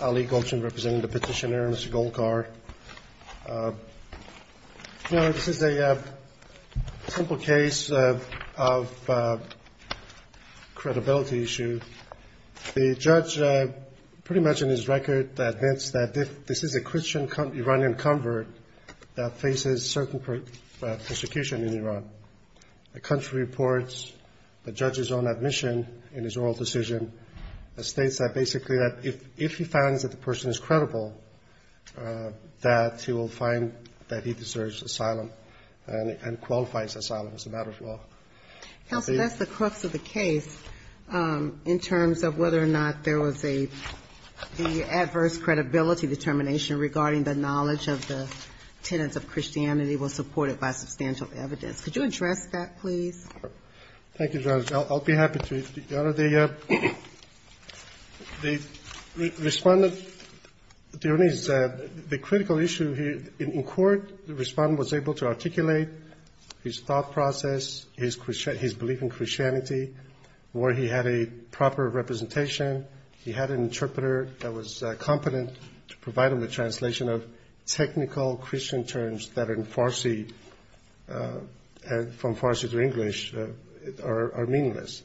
Ali Golchan representing the petitioner Mr. Golkar. This is a simple case of credibility issue. The judge pretty much in his record admits that this is a Christian Iranian convert that faces certain persecution in Iran. The country reports the judge's own admission in his oral decision states that basically that if he finds that the person is credible, that he will find that he deserves asylum and qualifies asylum as a matter of law. Counsel, that's the crux of the case in terms of whether or not there was an adverse credibility determination regarding the knowledge of the tenets of Christianity was supported by substantial evidence. Could you address that, please? Thank you, Judge. I'll be happy to. Your Honor, the respondent, the critical issue in court, the respondent was able to articulate his thought process, his belief in Christianity, where he had a proper representation. He had an interpreter that was competent to provide him the translation of technical Christian terms that in Farsi, from Farsi to English, are meaningless.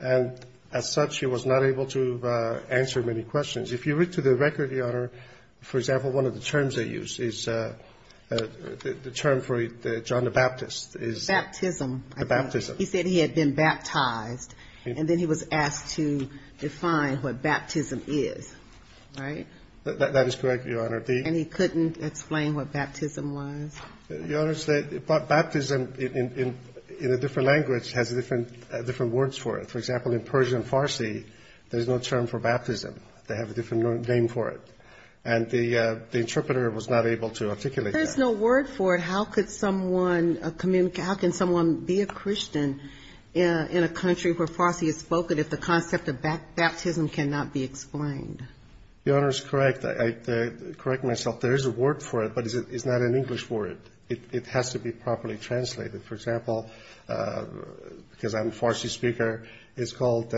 And as such, he was not able to answer many questions. If you read through the record, Your Honor, for example, one of the terms they used, it said, the term for John the Baptist is... Baptism. The baptism. He said he had been baptized, and then he was asked to define what baptism is, right? That is correct, Your Honor. And he couldn't explain what baptism was? Your Honor, baptism in a different language has different words for it. For example, in Persian Farsi, there's no term for baptism. They have a different name for it. And the interpreter was not able to articulate that. If there's no word for it, how can someone be a Christian in a country where Farsi is spoken if the concept of baptism cannot be explained? Your Honor is correct. I correct myself. There is a word for it, but it's not an English word. It has to be properly translated. For example, because I'm a Farsi speaker, it's called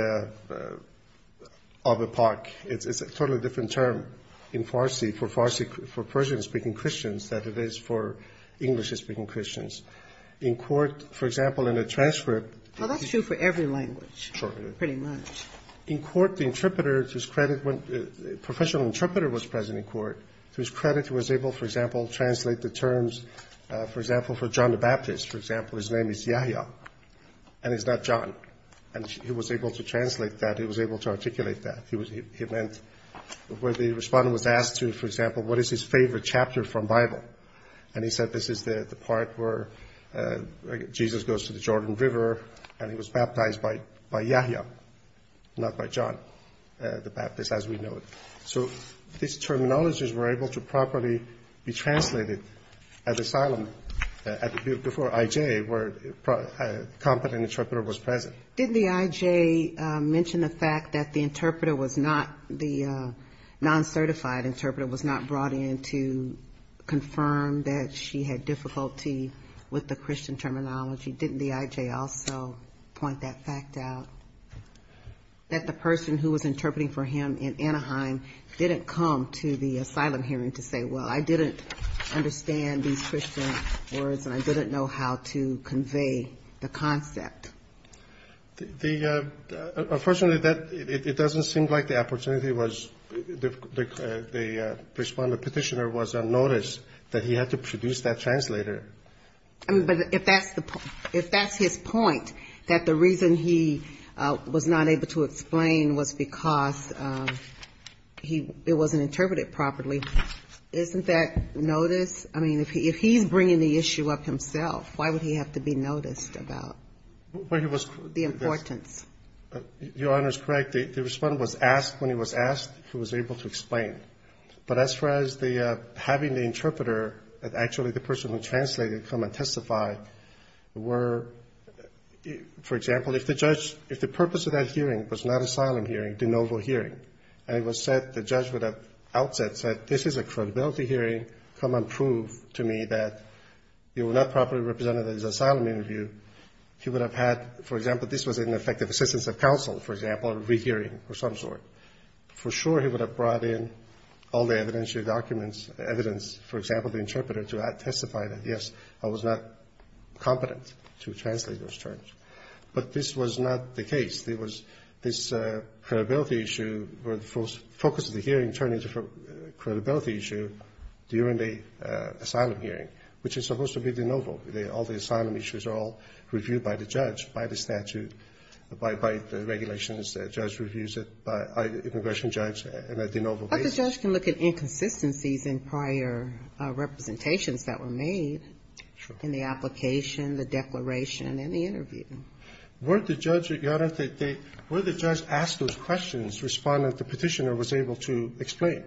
Abipak. It's a totally different term in Farsi for Persian-speaking Christians than it is for English-speaking Christians. In court, for example, in a transcript... Well, that's true for every language. Sure. Pretty much. In court, the professional interpreter was present in court. To his credit, he was able, for example, to translate the terms, for example, for John the Baptist. For example, his name is Yahya, and he's not John. And he was able to translate that. He was able to articulate that. The respondent was asked, for example, what is his favorite chapter from the Bible? And he said, this is the part where Jesus goes to the Jordan River, and he was baptized by Yahya, not by John the Baptist, as we know it. So these terminologies were able to properly be translated at asylum, before I.J., where a competent interpreter was present. Did the I.J. mention the fact that the interpreter was not, the non-certified interpreter was not brought in to confess? Did the I.J. confirm that she had difficulty with the Christian terminology? Didn't the I.J. also point that fact out? That the person who was interpreting for him in Anaheim didn't come to the asylum hearing to say, well, I didn't understand these Christian words, and I didn't know how to convey the concept? Unfortunately, it doesn't seem like the opportunity was... that the respondent petitioner was unnoticed, that he had to produce that translator. I mean, but if that's the point, if that's his point, that the reason he was not able to explain was because it wasn't interpreted properly, isn't that notice? I mean, if he's bringing the issue up himself, why would he have to be noticed about the importance? Your Honor is correct. The respondent was asked, when he was asked, if he was able to explain. But as far as having the interpreter, actually the person who translated, come and testify, were, for example, if the purpose of that hearing was not asylum hearing, de novo hearing, and it was said, the judge would have outset said, this is a credibility hearing, come and prove to me that you will not properly represent his asylum interview, he would have had, for example, this was an effective assistance of counsel, for example, a rehearing of some sort. For sure he would have brought in all the evidence, your documents, evidence, for example, the interpreter to testify that, yes, I was not competent to translate those terms. But this was not the case. There was this credibility issue where the focus of the hearing turned into a credibility issue during the asylum hearing, which is supposed to be de novo. All the asylum issues are all reviewed by the judge, by the statute, by the regulations. The judge reviews it, the immigration judge, and a de novo case. But the judge can look at inconsistencies in prior representations that were made in the application, the declaration, and the interview. Were the judge, Your Honor, were the judge asked those questions, respondent, the petitioner was able to explain?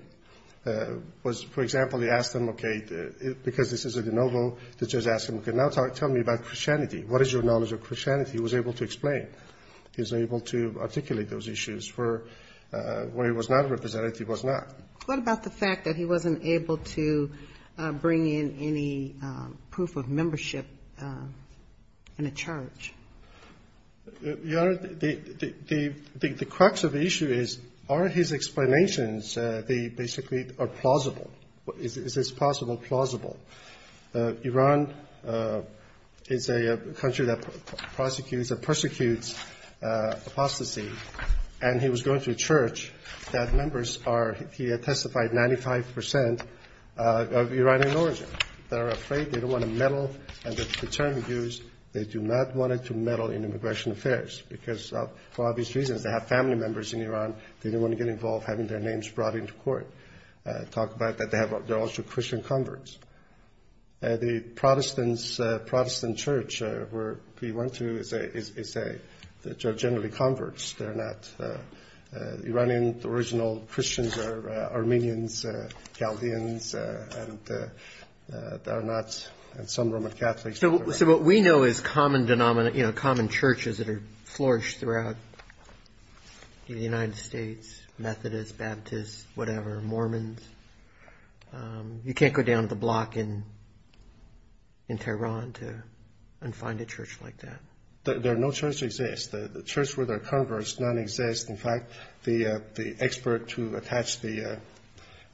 Was, for example, he asked them, okay, because this is a de novo, the judge asked him, okay, now tell me about Christianity. What is your knowledge of Christianity? He was able to explain. He was able to articulate those issues for where he was not a representative, he was not. What about the fact that he wasn't able to bring in any proof of membership in a charge? Your Honor, the crux of the issue is, are his explanations, they basically are plausible. Is this possible, plausible? Iran is a country that prosecutes or persecutes apostasy, and he was going to a church that members are, he had testified 95 percent of Iranian origin. They're afraid, they don't want to meddle, and the term used, they do not want to meddle, in immigration affairs, because for obvious reasons, they have family members in Iran, they don't want to get involved having their names brought into court. Talk about that, they're also Christian converts. The Protestant church where he went to is generally converts. Iranian original Christians are Armenians, Chaldeans, and some Roman Catholics. So what we know is common denominations, common churches that have flourished throughout the United States, Methodists, Baptists, whatever, Mormons. You can't go down to the block in Tehran and find a church like that. There are no churches that exist. The church where they're converts, none exist. In fact, the expert who attached the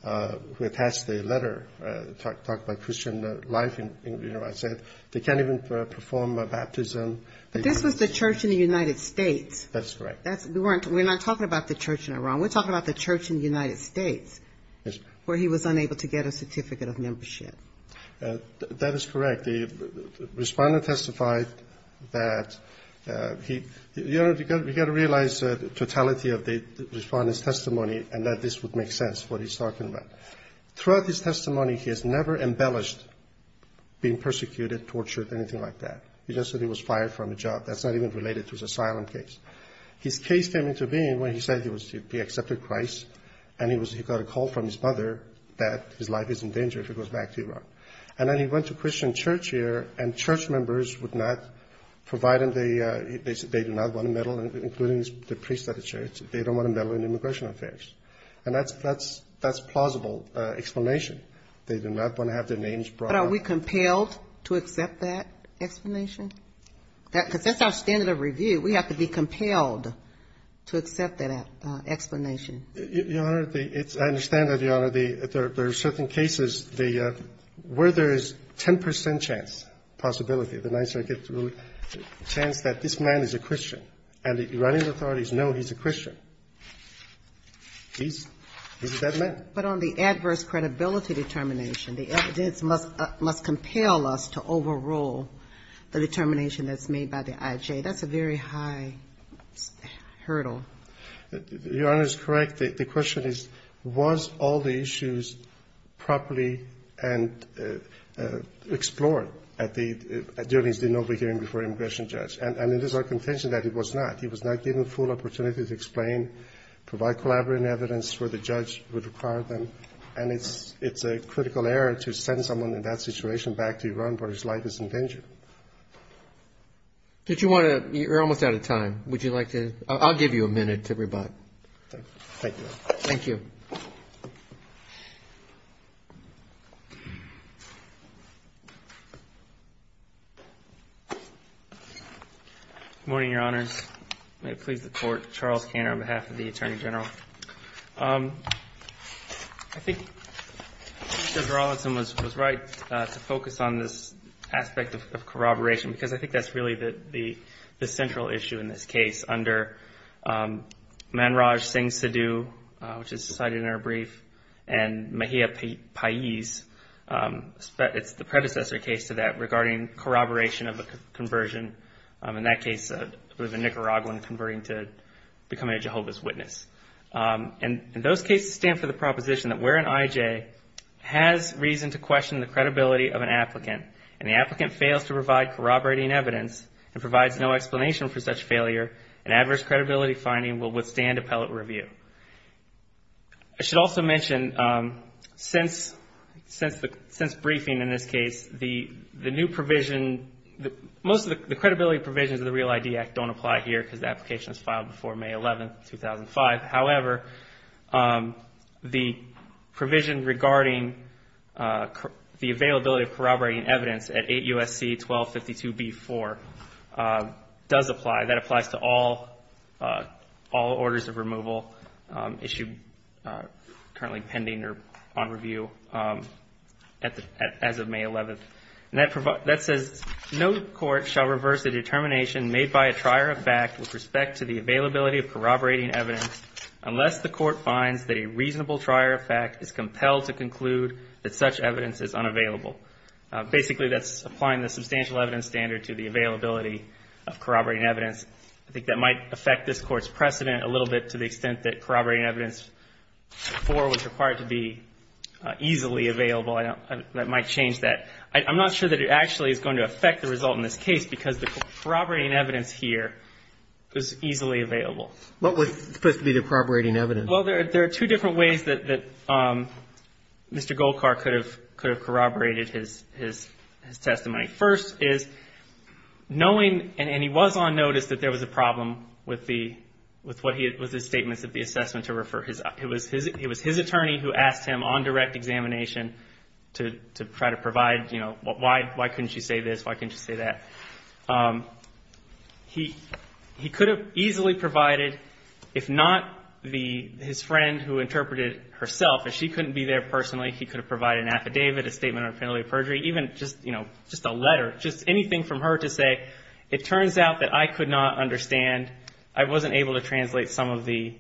letter, talked about Christian life in Iran, said they can't go down to the block and they can't even perform a baptism. But this was the church in the United States. That's correct. We're not talking about the church in Iran, we're talking about the church in the United States where he was unable to get a certificate of membership. That is correct. The Respondent testified that, you've got to realize the totality of the Respondent's testimony and that this would make sense, what he's talking about. Throughout his testimony, he has never embellished being persecuted, tortured, anything like that. He just said he was fired from a job. That's not even related to his asylum case. His case came into being when he said he accepted Christ and he got a call from his mother that his life is in danger if he goes back to Iran. And then he went to Christian church here and church members would not provide him, they do not want a medal, including the priests at the church, they don't want a medal in immigration affairs. And that's a plausible explanation. They do not want to have their names brought up. But are we compelled to accept that explanation? Because that's our standard of review. We have to be compelled to accept that explanation. Your Honor, I understand that, Your Honor. There are certain cases where there is 10 percent chance, possibility, the chance that this man is a Christian. And the Iranian authorities know he's a Christian. He's that man. But on the adverse credibility determination, the evidence must compel us to overrule the determination that's made by the IJ. That's a very high hurdle. Your Honor is correct. The question is, was all the issues properly explored at the hearings before immigration judge? And it is our contention that it was not. He was not given a full opportunity to explain, provide collaborative evidence where the judge would require them. And it's a critical error to send someone in that situation back to Iran where his life is in danger. Did you want to? You're almost out of time. Would you like to? I'll give you a minute to rebut. Thank you. Good morning, Your Honors. May it please the Court. Charles Cantor on behalf of the Attorney General. I think Judge Rawlinson was right to focus on this aspect of corroboration, because I think that's really the central issue in this case. Under Manraj Singh Sidhu, which is cited in our brief, and Mahia Pais, it's the predecessor case to that regarding corroboration of a conversion. In that case, it was a Nicaraguan converting to becoming a Jehovah's Witness. And those cases stand for the proposition that where an IJ has reason to question the credibility of an applicant, and the applicant fails to provide corroborating evidence, and provides no explanation for such failure, an adverse credibility finding will withstand appellate review. I should also mention, since briefing in this case, the new provision, most of the corroborations that we've seen, the credibility provisions of the REAL ID Act don't apply here, because the application was filed before May 11, 2005. However, the provision regarding the availability of corroborating evidence at 8 U.S.C. 1252b-4 does apply. That applies to all orders of removal issued currently pending or on review as of May 11. And that says, no court shall reverse a determination made by a trier of fact with respect to the availability of corroborating evidence unless the court finds that a reasonable trier of fact is compelled to conclude that such evidence is unavailable. Basically, that's applying the substantial evidence standard to the availability of corroborating evidence. I think that might affect this Court's precedent a little bit to the extent that corroborating evidence before was required to be available, and I'm not sure that it actually is going to affect the result in this case, because the corroborating evidence here is easily available. What was supposed to be the corroborating evidence? Well, there are two different ways that Mr. Golkar could have corroborated his testimony. First is knowing, and he was on notice, that there was a question about why couldn't she say this, why couldn't she say that. He could have easily provided, if not his friend who interpreted it herself, if she couldn't be there personally, he could have provided an affidavit, a statement on penalty of perjury, even just a letter, just anything from her to say, it turns out that I could not understand, I wasn't able to translate some of the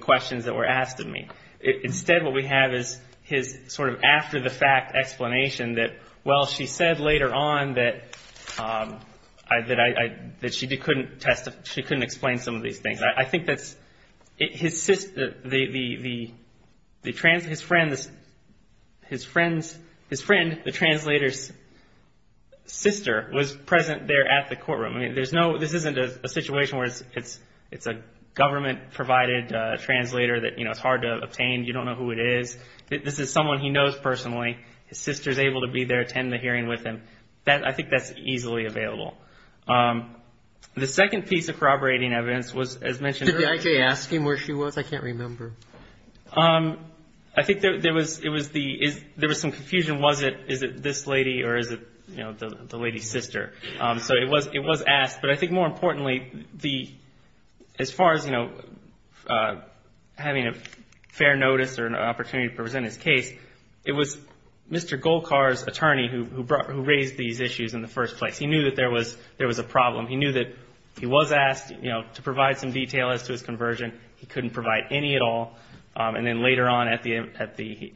questions that were asked of me. Instead, what we have is his sort of after-the-fact explanation that, well, she said later on that she couldn't explain some of these things. His friend, the translator's sister, was present there at the courtroom. This isn't a situation where it's a government-provided translator that, you know, it's hard to approach. You don't know who it is. This is someone he knows personally. His sister's able to be there to attend the hearing with him. I think that's easily available. The second piece of corroborating evidence was, as mentioned earlier... Did they actually ask him where she was? I can't remember. I think there was some confusion. Was it this lady or is it the lady's sister? So it was asked. But I think more importantly, as far as having a fair notice or an opportunity to present his case, it was Mr. Golkar's attorney who raised these issues in the first place. He knew that there was a problem. He knew that he was asked to provide some detail as to his conversion. He couldn't provide any at all. And then later on at the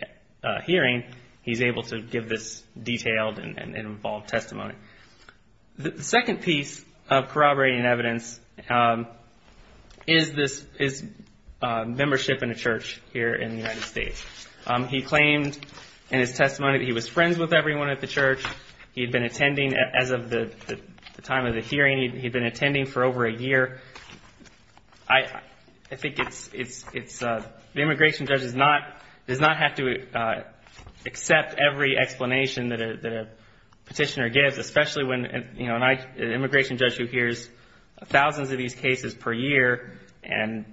hearing, he's able to give this detailed and involved testimony. The second piece of corroborating evidence is his membership in a church here in the United States. He claimed in his testimony that he was friends with everyone at the church. He'd been attending as of the time of the hearing. He'd been attending for over a year. The immigration judge does not have to accept every explanation that a petitioner gives. Especially when an immigration judge who hears thousands of these cases per year and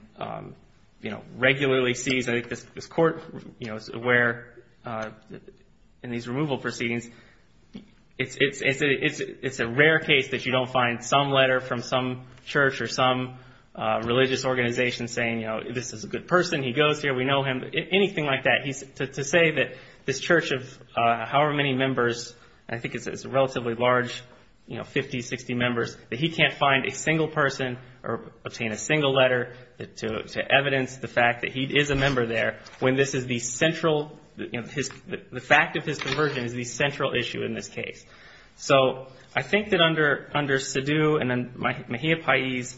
regularly sees... I think this Court is aware in these removal proceedings, it's a rare case that you don't find some letter from some church or some religious organization saying, you know, this is a good person. He goes here. We know him. Anything like that. To say that this church of however many members, I think it's a relatively large, you know, 50, 60 members, that he can't find a single person or obtain a single letter to evidence the fact that he is a member there when this is the central, you know, the fact of his conversion is the central issue in this case. So I think that under Sidhu and then Mahia Pais,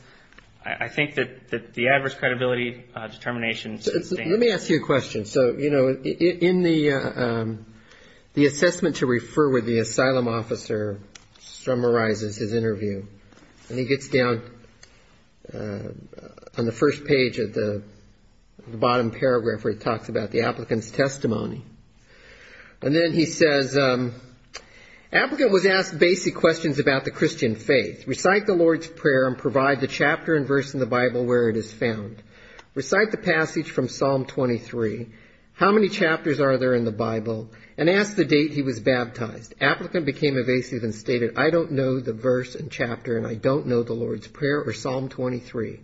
I think that the adverse credibility determination... Let me ask you a question. So, you know, in the assessment to refer with the asylum officer summarizes his interview. And he gets down on the first page of the bottom paragraph where he talks about the applicant's testimony. And then he says, applicant was asked basic questions about the Christian faith. Recite the Lord's Prayer and provide the chapter and verse in the Bible where it is found. Recite the passage from Psalm 23. How many chapters are there in the Bible? And ask the date he was baptized. Applicant became evasive and stated, I don't know the verse and chapter and I don't know the Lord's Prayer or Psalm 23.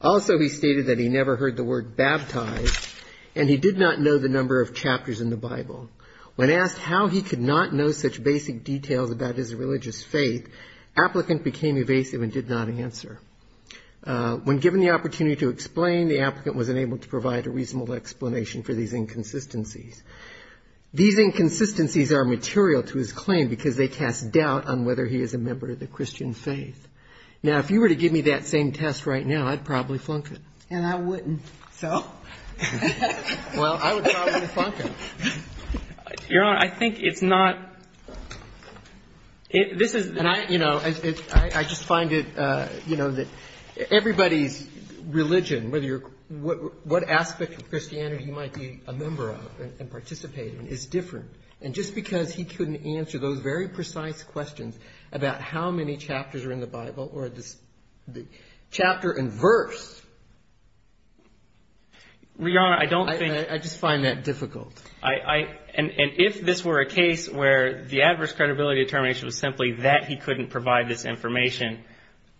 Also, he stated that he never heard the word baptized and he did not know the number of chapters in the Bible. When asked how he could not know such basic details about his religious faith, applicant became evasive and did not answer. When given the opportunity to explain, the applicant was unable to provide a reasonable explanation for these inconsistencies. These inconsistencies are material to his claim because they cast doubt on whether he is a member of the Christian faith. Now, if you were to give me that same test right now, I'd probably flunk it. And I wouldn't. So? Well, I would probably flunk it. Your Honor, I think it's not... I just find that everybody's religion, what aspect of Christianity he might be a member of and participate in, is different. And just because he couldn't answer those very precise questions about how many chapters are in the Bible or the chapter and verse... I just find that difficult. And if this were a case where the adverse credibility determination was simply that he couldn't provide this information,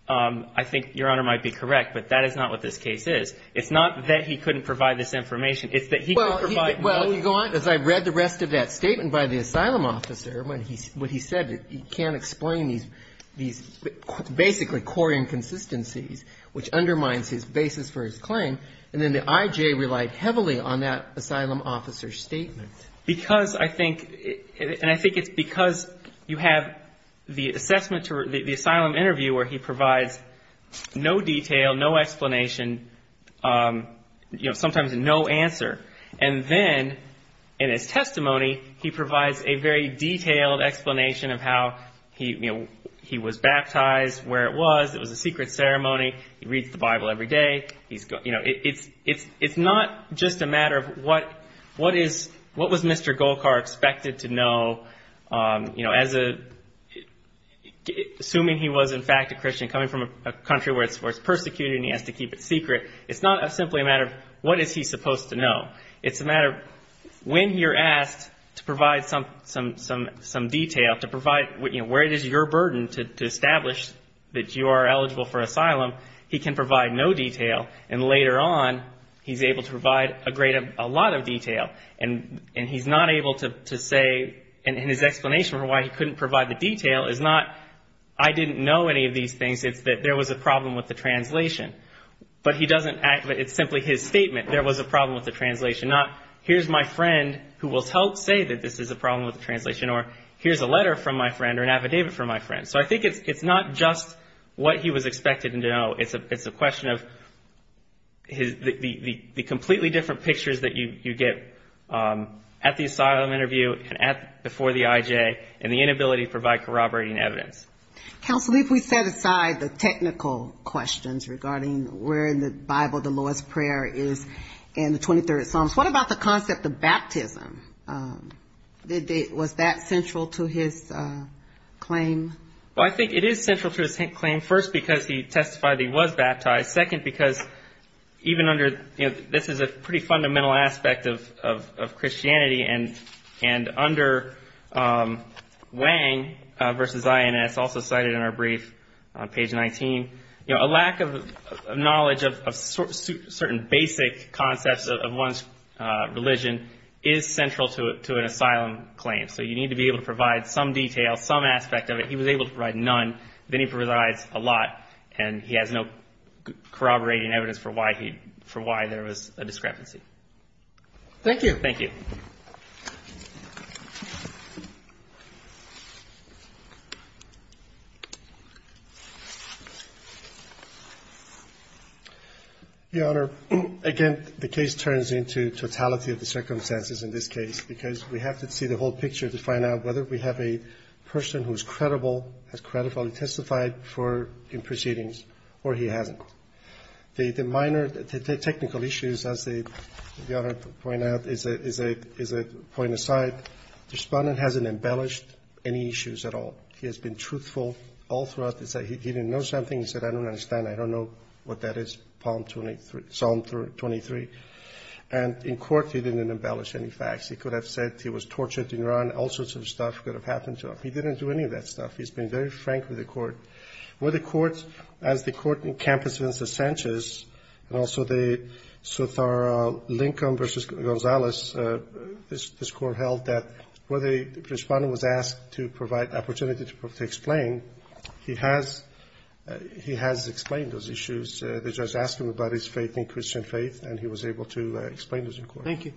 I think Your Honor might be correct, but that is not what this case is. It's not that he couldn't provide this information, it's that he couldn't provide... Well, as I read the rest of that statement by the asylum officer, what he said, he can't explain these basically core inconsistencies, which undermines his basis for his claim. And then the IJ relied heavily on that asylum officer's statement. Because I think... And I think it's because you have the assessment, the asylum interview where he provides no detail, no explanation, sometimes no answer. And then in his testimony, he provides a very detailed explanation of how he was baptized, where it was, it was a secret ceremony, he reads the Bible every day. It's not just a matter of what was Mr. Golkar expected to know, assuming he was in fact a Christian coming from a country where it's persecuted and he has to keep it secret. It's not simply a matter of what is he supposed to know. It's a matter of when you're asked to provide some detail, to provide where it is your burden to establish that you are eligible for asylum, he can provide no detail. And then later on, he's able to provide a great, a lot of detail. And he's not able to say, and his explanation for why he couldn't provide the detail is not, I didn't know any of these things, it's that there was a problem with the translation. But he doesn't... It's simply his statement, there was a problem with the translation, not here's my friend who will help say that this is a problem with the translation, or here's a letter from my friend or an affidavit from my friend. So I think it's not just what he was expected to know. It's the completely different pictures that you get at the asylum interview and before the IJ, and the inability to provide corroborating evidence. Counsel, if we set aside the technical questions regarding where in the Bible the lowest prayer is in the 23rd Psalms, what about the concept of baptism? Was that central to his claim? Well, I think it is central to his claim, first because he testified that he was baptized. Second, because even under, this is a pretty fundamental aspect of Christianity, and under Wang versus INS, also cited in our brief on page 19, a lack of knowledge of certain basic concepts of one's religion is central to an asylum claim. So you need to be able to provide some detail, some aspect of it. He was able to provide none, then he provides a lot, and he has no corroborating evidence for why there was a discrepancy. Thank you. Your Honor, again, the case turns into totality of the circumstances in this case, because we have to see the whole picture to find out whether we have a person who is credible, has credibly testified in proceedings, or he hasn't. The minor technical issues, as the Honor pointed out, is a point aside, the respondent hasn't embellished any issues at all. He has been truthful all throughout, he said he didn't know something, he said I don't understand, I don't know what that is, Psalm 23, and in court he didn't embellish any facts. He could have said he was tortured and run, all sorts of stuff could have happened to him. He didn't do any of that stuff, he's been very frank with the court. Where the court, as the court in Campos v. Sanchez, and also the Sotaro-Lincoln v. Gonzalez, this court held that where the respondent was asked to provide opportunity to explain, he has explained those issues. The judge asked him about his faith in Christian faith, and he was able to explain those in court. Thank you.